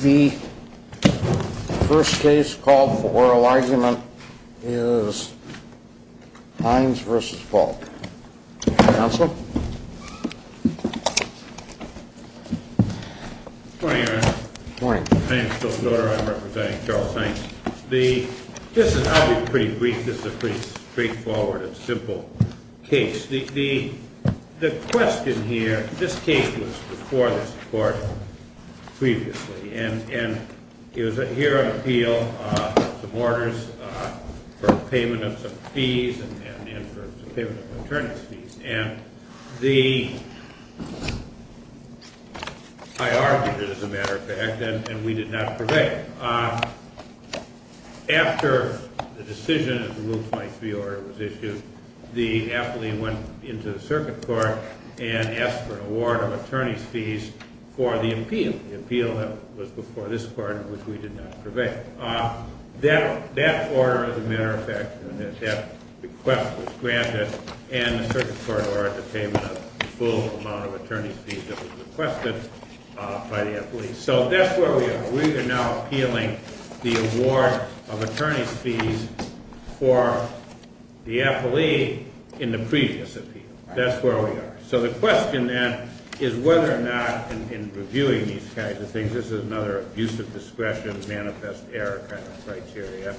The first case called for oral argument is Hines v. Fulk. Counsel? Good morning, Your Honor. Good morning. My name is Phil Soder. I'm representing Charles Hines. I'll be pretty brief. This is a pretty straightforward and simple case. The question here, this case was before this court previously, and it was here on appeal, some orders for payment of some fees and for payment of maternity fees. I argued it, as a matter of fact, and we did not prevail. After the decision of the Rule 23 order was issued, the affilee went into the circuit court and asked for an award of attorney's fees for the appeal. The appeal was before this court, which we did not prevail. That order, as a matter of fact, and that request was granted, and the circuit court ordered the payment of the full amount of attorney's fees that was requested by the affilee. So that's where we are. We are now appealing the award of attorney's fees for the affilee in the previous appeal. That's where we are. So the question, then, is whether or not, in reviewing these kinds of things, this is another abuse of discretion, manifest error kind of criteria.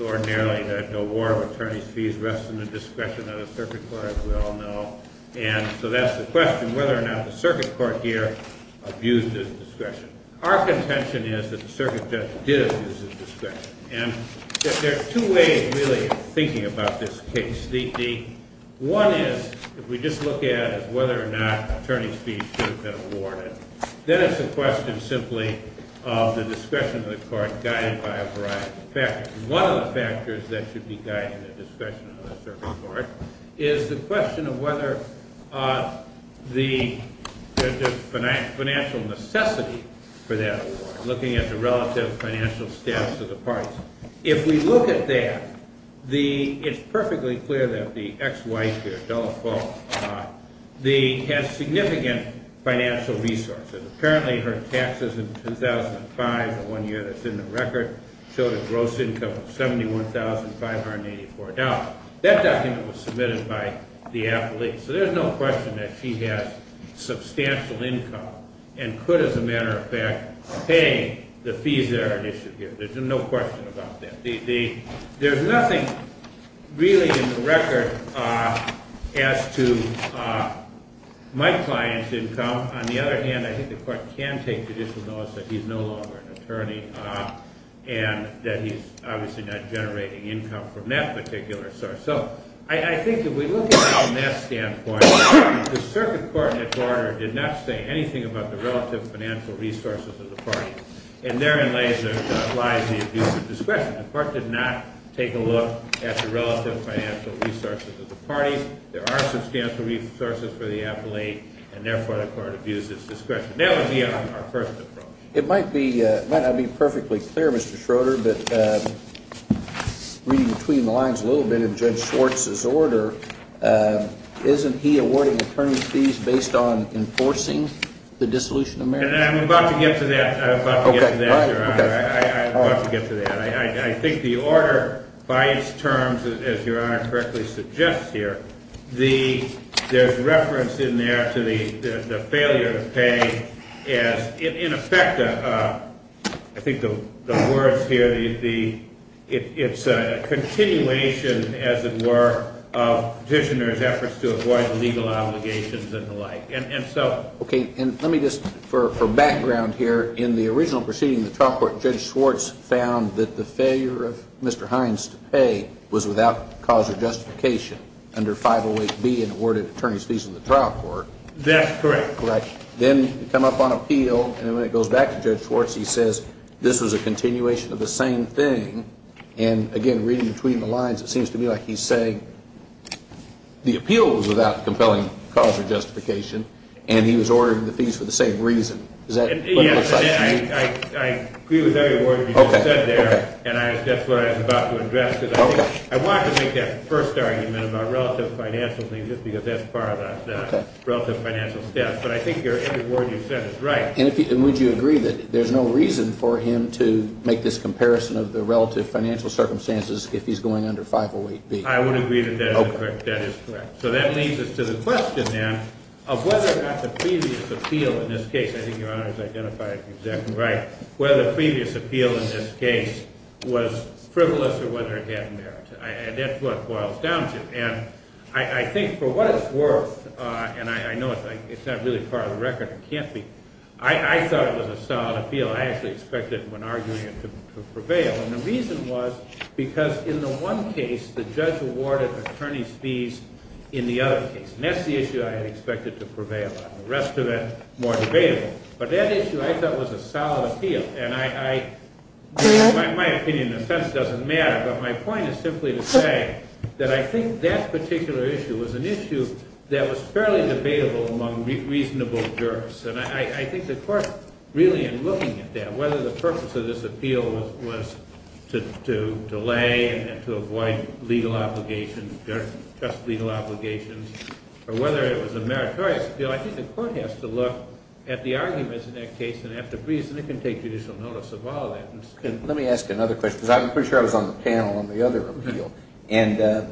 Ordinarily, the award of attorney's fees rests in the discretion of the circuit court, as we all know. And so that's the question, whether or not the circuit court here abused his discretion. Our contention is that the circuit judge did abuse his discretion. And there are two ways, really, of thinking about this case. One is, if we just look at whether or not attorney's fees should have been awarded, then it's a question simply of the discretion of the court guided by a variety of factors. One of the factors that should be guiding the discretion of the circuit court is the question of whether the financial necessity for that award, looking at the relative financial status of the parties. If we look at that, it's perfectly clear that the ex-wife here, Della Faux, has significant financial resources. Apparently, her taxes in 2005, the one year that's in the record, showed a gross income of $71,584. That document was submitted by the affilee. So there's no question that she has substantial income and could, as a matter of fact, pay the fees that are in issue here. There's no question about that. There's nothing really in the record as to my client's income. On the other hand, I think the court can take judicial notice that he's no longer an attorney and that he's obviously not generating income from that particular source. So I think if we look at it from that standpoint, the circuit court in its order did not say anything about the relative financial resources of the party. And therein lies the abuse of discretion. The court did not take a look at the relative financial resources of the party. There are substantial resources for the affilee, and therefore, the court abuses discretion. That would be our first approach. It might not be perfectly clear, Mr. Schroeder, but reading between the lines a little bit of Judge Schwartz's order, isn't he awarding attorney's fees based on enforcing the dissolution of marriage? I'm about to get to that. I'm about to get to that, Your Honor. I'm about to get to that. I think the order, by its terms, as Your Honor correctly suggests here, there's reference in there to the failure to pay as, in effect, I think the words here, it's a continuation, as it were, of petitioners' efforts to avoid legal obligations and the like. Okay, and let me just, for background here, in the original proceeding in the trial court, Judge Schwartz found that the failure of Mr. Hines to pay was without cause or justification under 508B and awarded attorney's fees in the trial court. That's correct. Correct. Then you come up on appeal, and when it goes back to Judge Schwartz, he says this was a continuation of the same thing. And, again, reading between the lines, it seems to me like he's saying the appeal was without compelling cause or justification, and he was ordering the fees for the same reason. Does that make sense to you? Yes, I agree with every word you just said there, and that's what I'm about to address. I wanted to make that first argument about relative financial things just because that's part of the relative financial stuff, but I think every word you've said is right. And would you agree that there's no reason for him to make this comparison of the relative financial circumstances if he's going under 508B? I would agree that that is correct. That is correct. So that leads us to the question, then, of whether or not the previous appeal in this case, I think Your Honor has identified it exactly right, whether the previous appeal in this case was frivolous or whether it had merit. And that's what it boils down to. And I think for what it's worth, and I know it's not really part of the record, it can't be, I thought it was a solid appeal. I actually expected, when arguing it, to prevail, and the reason was because in the one case, the judge awarded attorney's fees in the other case. And that's the issue I had expected to prevail on. The rest of it, more debatable. But that issue, I thought, was a solid appeal. In my opinion, offense doesn't matter. But my point is simply to say that I think that particular issue was an issue that was fairly debatable among reasonable jurists. And I think the court, really, in looking at that, whether the purpose of this appeal was to delay and to avoid legal obligations, just legal obligations, or whether it was a meritorious appeal, I think the court has to look at the arguments in that case and at the reason. It can take judicial notice of all that. Let me ask you another question, because I'm pretty sure I was on the panel on the other appeal. And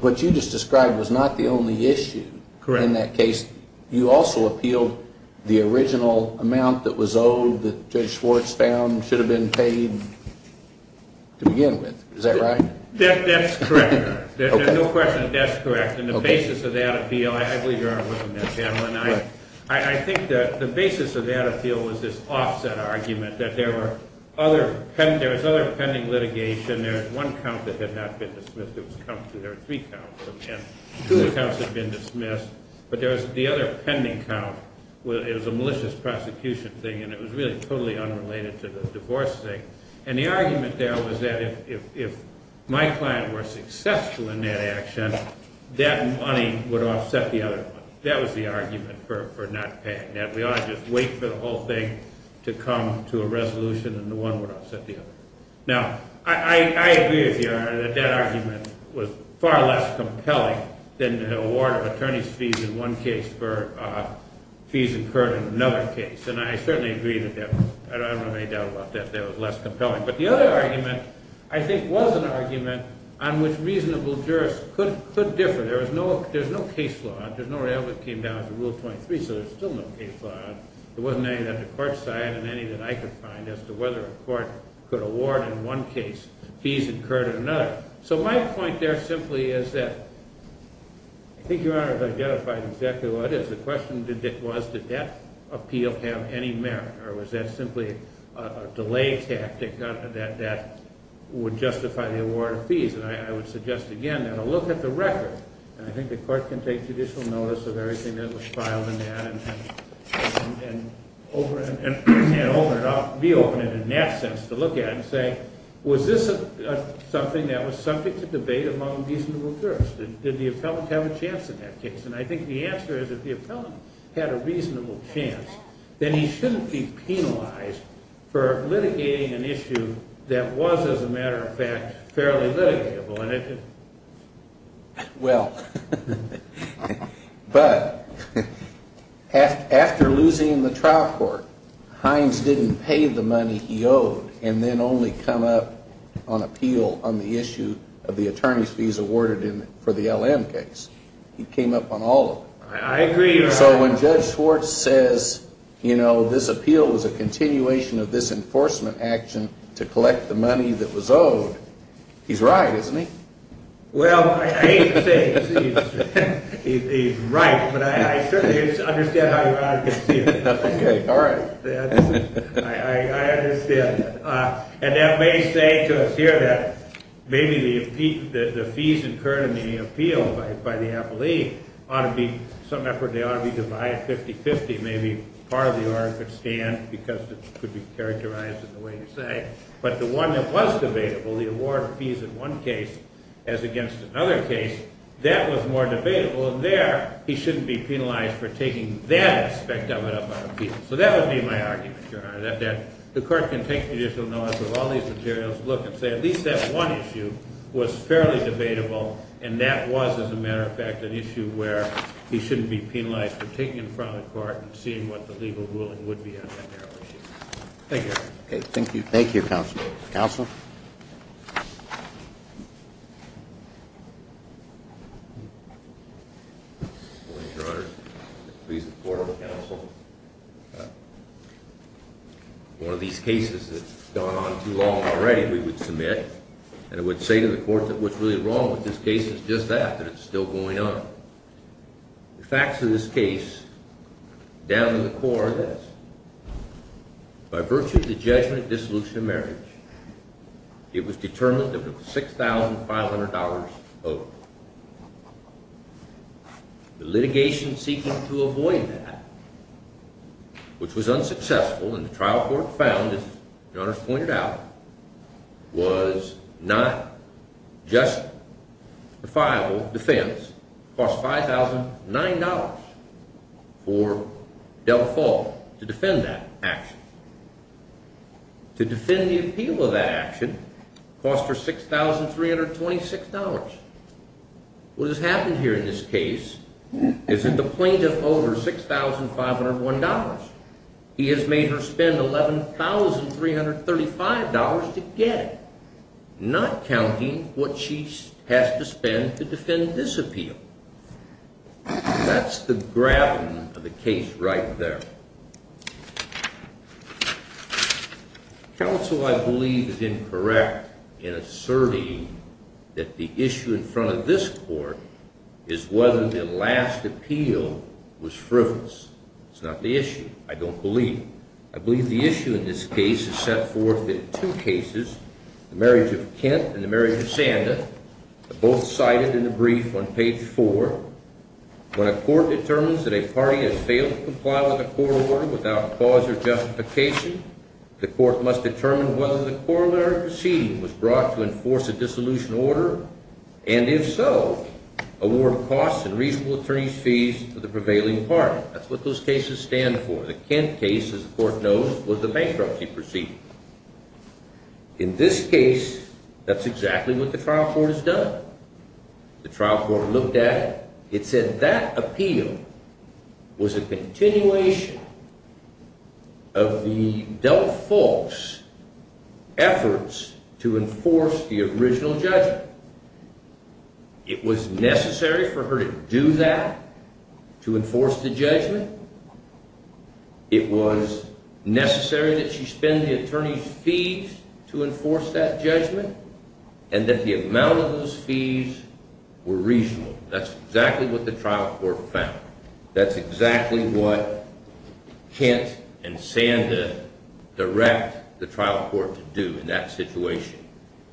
what you just described was not the only issue in that case. You also appealed the original amount that was owed that Judge Schwartz found should have been paid to begin with. Is that right? That's correct. There's no question that that's correct. And the basis of that appeal, I believe you were on that panel. And I think that the basis of that appeal was this offset argument that there was other pending litigation. There was one count that had not been dismissed. There were three counts. Two accounts had been dismissed. But there was the other pending count. It was a malicious prosecution thing. And it was really totally unrelated to the divorce thing. And the argument there was that if my client were successful in that action, that money would offset the other one. That was the argument for not paying that. We ought to just wait for the whole thing to come to a resolution, and the one would offset the other. Now, I agree with you, Your Honor, that that argument was far less compelling than the award of attorney's fees in one case for fees incurred in another case. And I certainly agree with that. I don't have any doubt about that. That was less compelling. But the other argument, I think, was an argument on which reasonable jurists could differ. There's no case law. There's no way it ever came down to Rule 23. So there's still no case law. There wasn't any on the court side and any that I could find as to whether a court could award in one case fees incurred in another. So my point there simply is that I think Your Honor has identified exactly what it is. The question was, did that appeal have any merit, or was that simply a delay tactic that would justify the award of fees? And I would suggest again that a look at the record, and I think the court can take judicial notice of everything that was filed in that, and reopen it in that sense to look at it and say, was this something that was something to debate among reasonable jurists? Did the appellant have a chance in that case? And I think the answer is, if the appellant had a reasonable chance, then he shouldn't be penalized for litigating an issue that was, as a matter of fact, fairly litigable. Well, but after losing in the trial court, Hines didn't pay the money he owed and then only come up on appeal on the issue of the attorney's fees awarded for the LM case. He came up on all of them. I agree, Your Honor. So when Judge Schwartz says, you know, this appeal was a continuation of this enforcement action to collect the money that was owed, he's right, isn't he? Well, I hate to say it, but he's right, but I certainly understand how Your Honor can see it. Okay, all right. I understand that. And that may say to us here that maybe the fees incurred in the appeal by the appellee ought to be some effort. They ought to be divided 50-50. Maybe part of the order could stand because it could be characterized in the way you say. But the one that was debatable, the award of fees in one case as against another case, that was more debatable. And there, he shouldn't be penalized for taking that aspect of it up on appeal. So that would be my argument, Your Honor, that the court can take judicial notice of all these materials, look and say at least that one issue was fairly debatable, and that was, as a matter of fact, an issue where he shouldn't be penalized for taking it in front of the court and seeing what the legal ruling would be on that narrow issue. Thank you. Okay, thank you. Thank you, Counsel. Counsel? Good morning, Your Honor. Please support the counsel. One of these cases that's gone on too long already we would submit, and it would say to the court that what's really wrong with this case is just that, that it's still going on. The facts of this case, down to the core, are this. By virtue of the judgment of dissolution of marriage, it was determined that it was $6,500 owed. The litigation seeking to avoid that, which was unsuccessful, and the trial court found, as Your Honor has pointed out, was not justifiable defense. It cost $5,009 for Delfort to defend that action. To defend the appeal of that action cost her $6,326. What has happened here in this case is that the plaintiff owed her $6,501. He has made her spend $11,335 to get it, not counting what she has to spend to defend this appeal. That's the graven of the case right there. Counsel, I believe, is incorrect in asserting that the issue in front of this court is whether the last appeal was frivolous. It's not the issue, I don't believe. I believe the issue in this case is set forth in two cases, the marriage of Kent and the marriage of Sanda. Both cited in the brief on page four. When a court determines that a party has failed to comply with a court order without cause or justification, the court must determine whether the corollary proceeding was brought to enforce a dissolution order, and if so, award costs and reasonable attorney's fees to the prevailing party. That's what those cases stand for. The Kent case, as the court knows, was the bankruptcy proceeding. In this case, that's exactly what the trial court has done. The trial court looked at it. It said that appeal was a continuation of the Delta folks' efforts to enforce the original judgment. It was necessary for her to do that, to enforce the judgment. It was necessary that she spend the attorney's fees to enforce that judgment, and that the amount of those fees were reasonable. That's exactly what the trial court found. That's exactly what Kent and Sanda direct the trial court to do in that situation.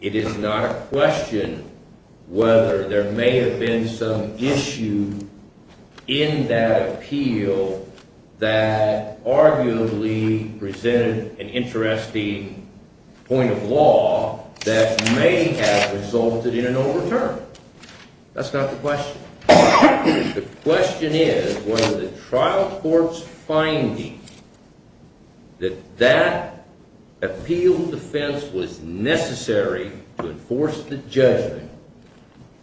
It is not a question whether there may have been some issue in that appeal that arguably presented an interesting point of law that may have resulted in an overturn. That's not the question. The question is whether the trial court's finding that that appeal defense was necessary to enforce the judgment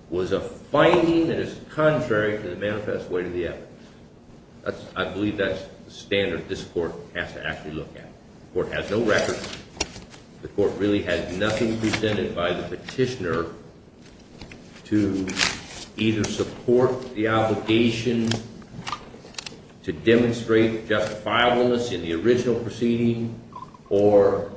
was a finding that is contrary to the manifest way to the evidence. I believe that's the standard this court has to actually look at. The court has no records. The court really has nothing presented by the petitioner to either support the obligation to demonstrate justifiableness in the original proceeding or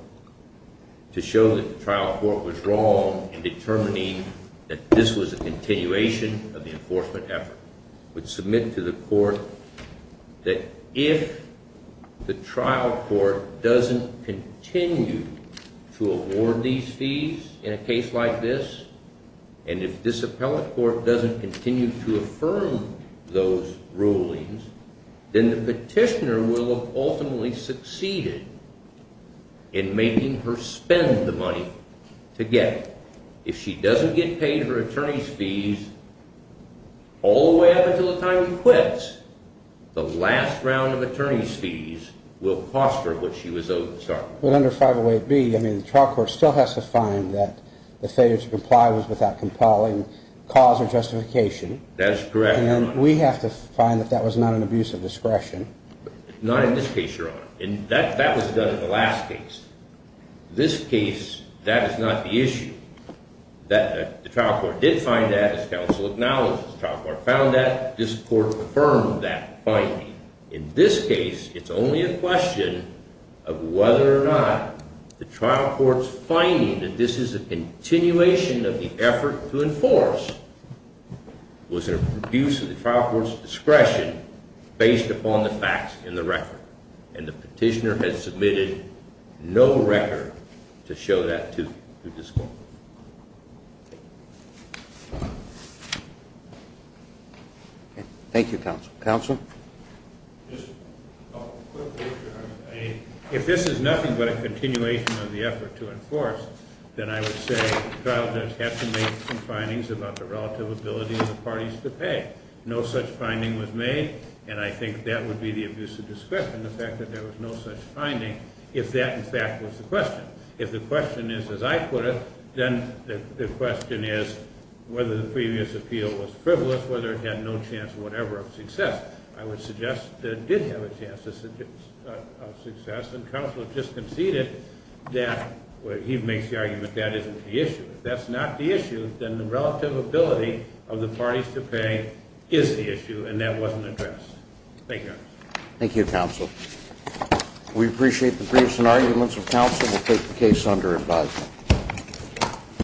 to show that the trial court was wrong in determining that this was a continuation of the enforcement effort. I would submit to the court that if the trial court doesn't continue to award these fees in a case like this, and if this appellate court doesn't continue to affirm those rulings, then the petitioner will have ultimately succeeded in making her spend the money to get it. If she doesn't get paid her attorney's fees all the way up until the time he quits, the last round of attorney's fees will cost her what she was owed in the start. But under 508B, I mean, the trial court still has to find that the failure to comply was without compiling cause or justification. That's correct, Your Honor. And we have to find that that was not an abuse of discretion. Not in this case, Your Honor. And that was done in the last case. This case, that is not the issue. The trial court did find that, as counsel acknowledges. The trial court found that. This court affirmed that finding. In this case, it's only a question of whether or not the trial court's finding that this is a continuation of the effort to enforce was an abuse of the trial court's discretion based upon the facts in the record. And the petitioner has submitted no record to show that to this court. Thank you, counsel. Counsel? If this is nothing but a continuation of the effort to enforce, then I would say the trial judge has to make some findings about the relative ability of the parties to pay. No such finding was made. And I think that would be the abuse of discretion, the fact that there was no such finding, if that, in fact, was the question. If the question is, as I put it, then the question is whether the previous appeal was frivolous, whether it had no chance whatever of success. I would suggest that it did have a chance of success. And counsel has just conceded that he makes the argument that isn't the issue. If that's not the issue, then the relative ability of the parties to pay is the issue, and that wasn't addressed. Thank you. Thank you, counsel. We appreciate the briefs and arguments of counsel. We'll take the case under advisement.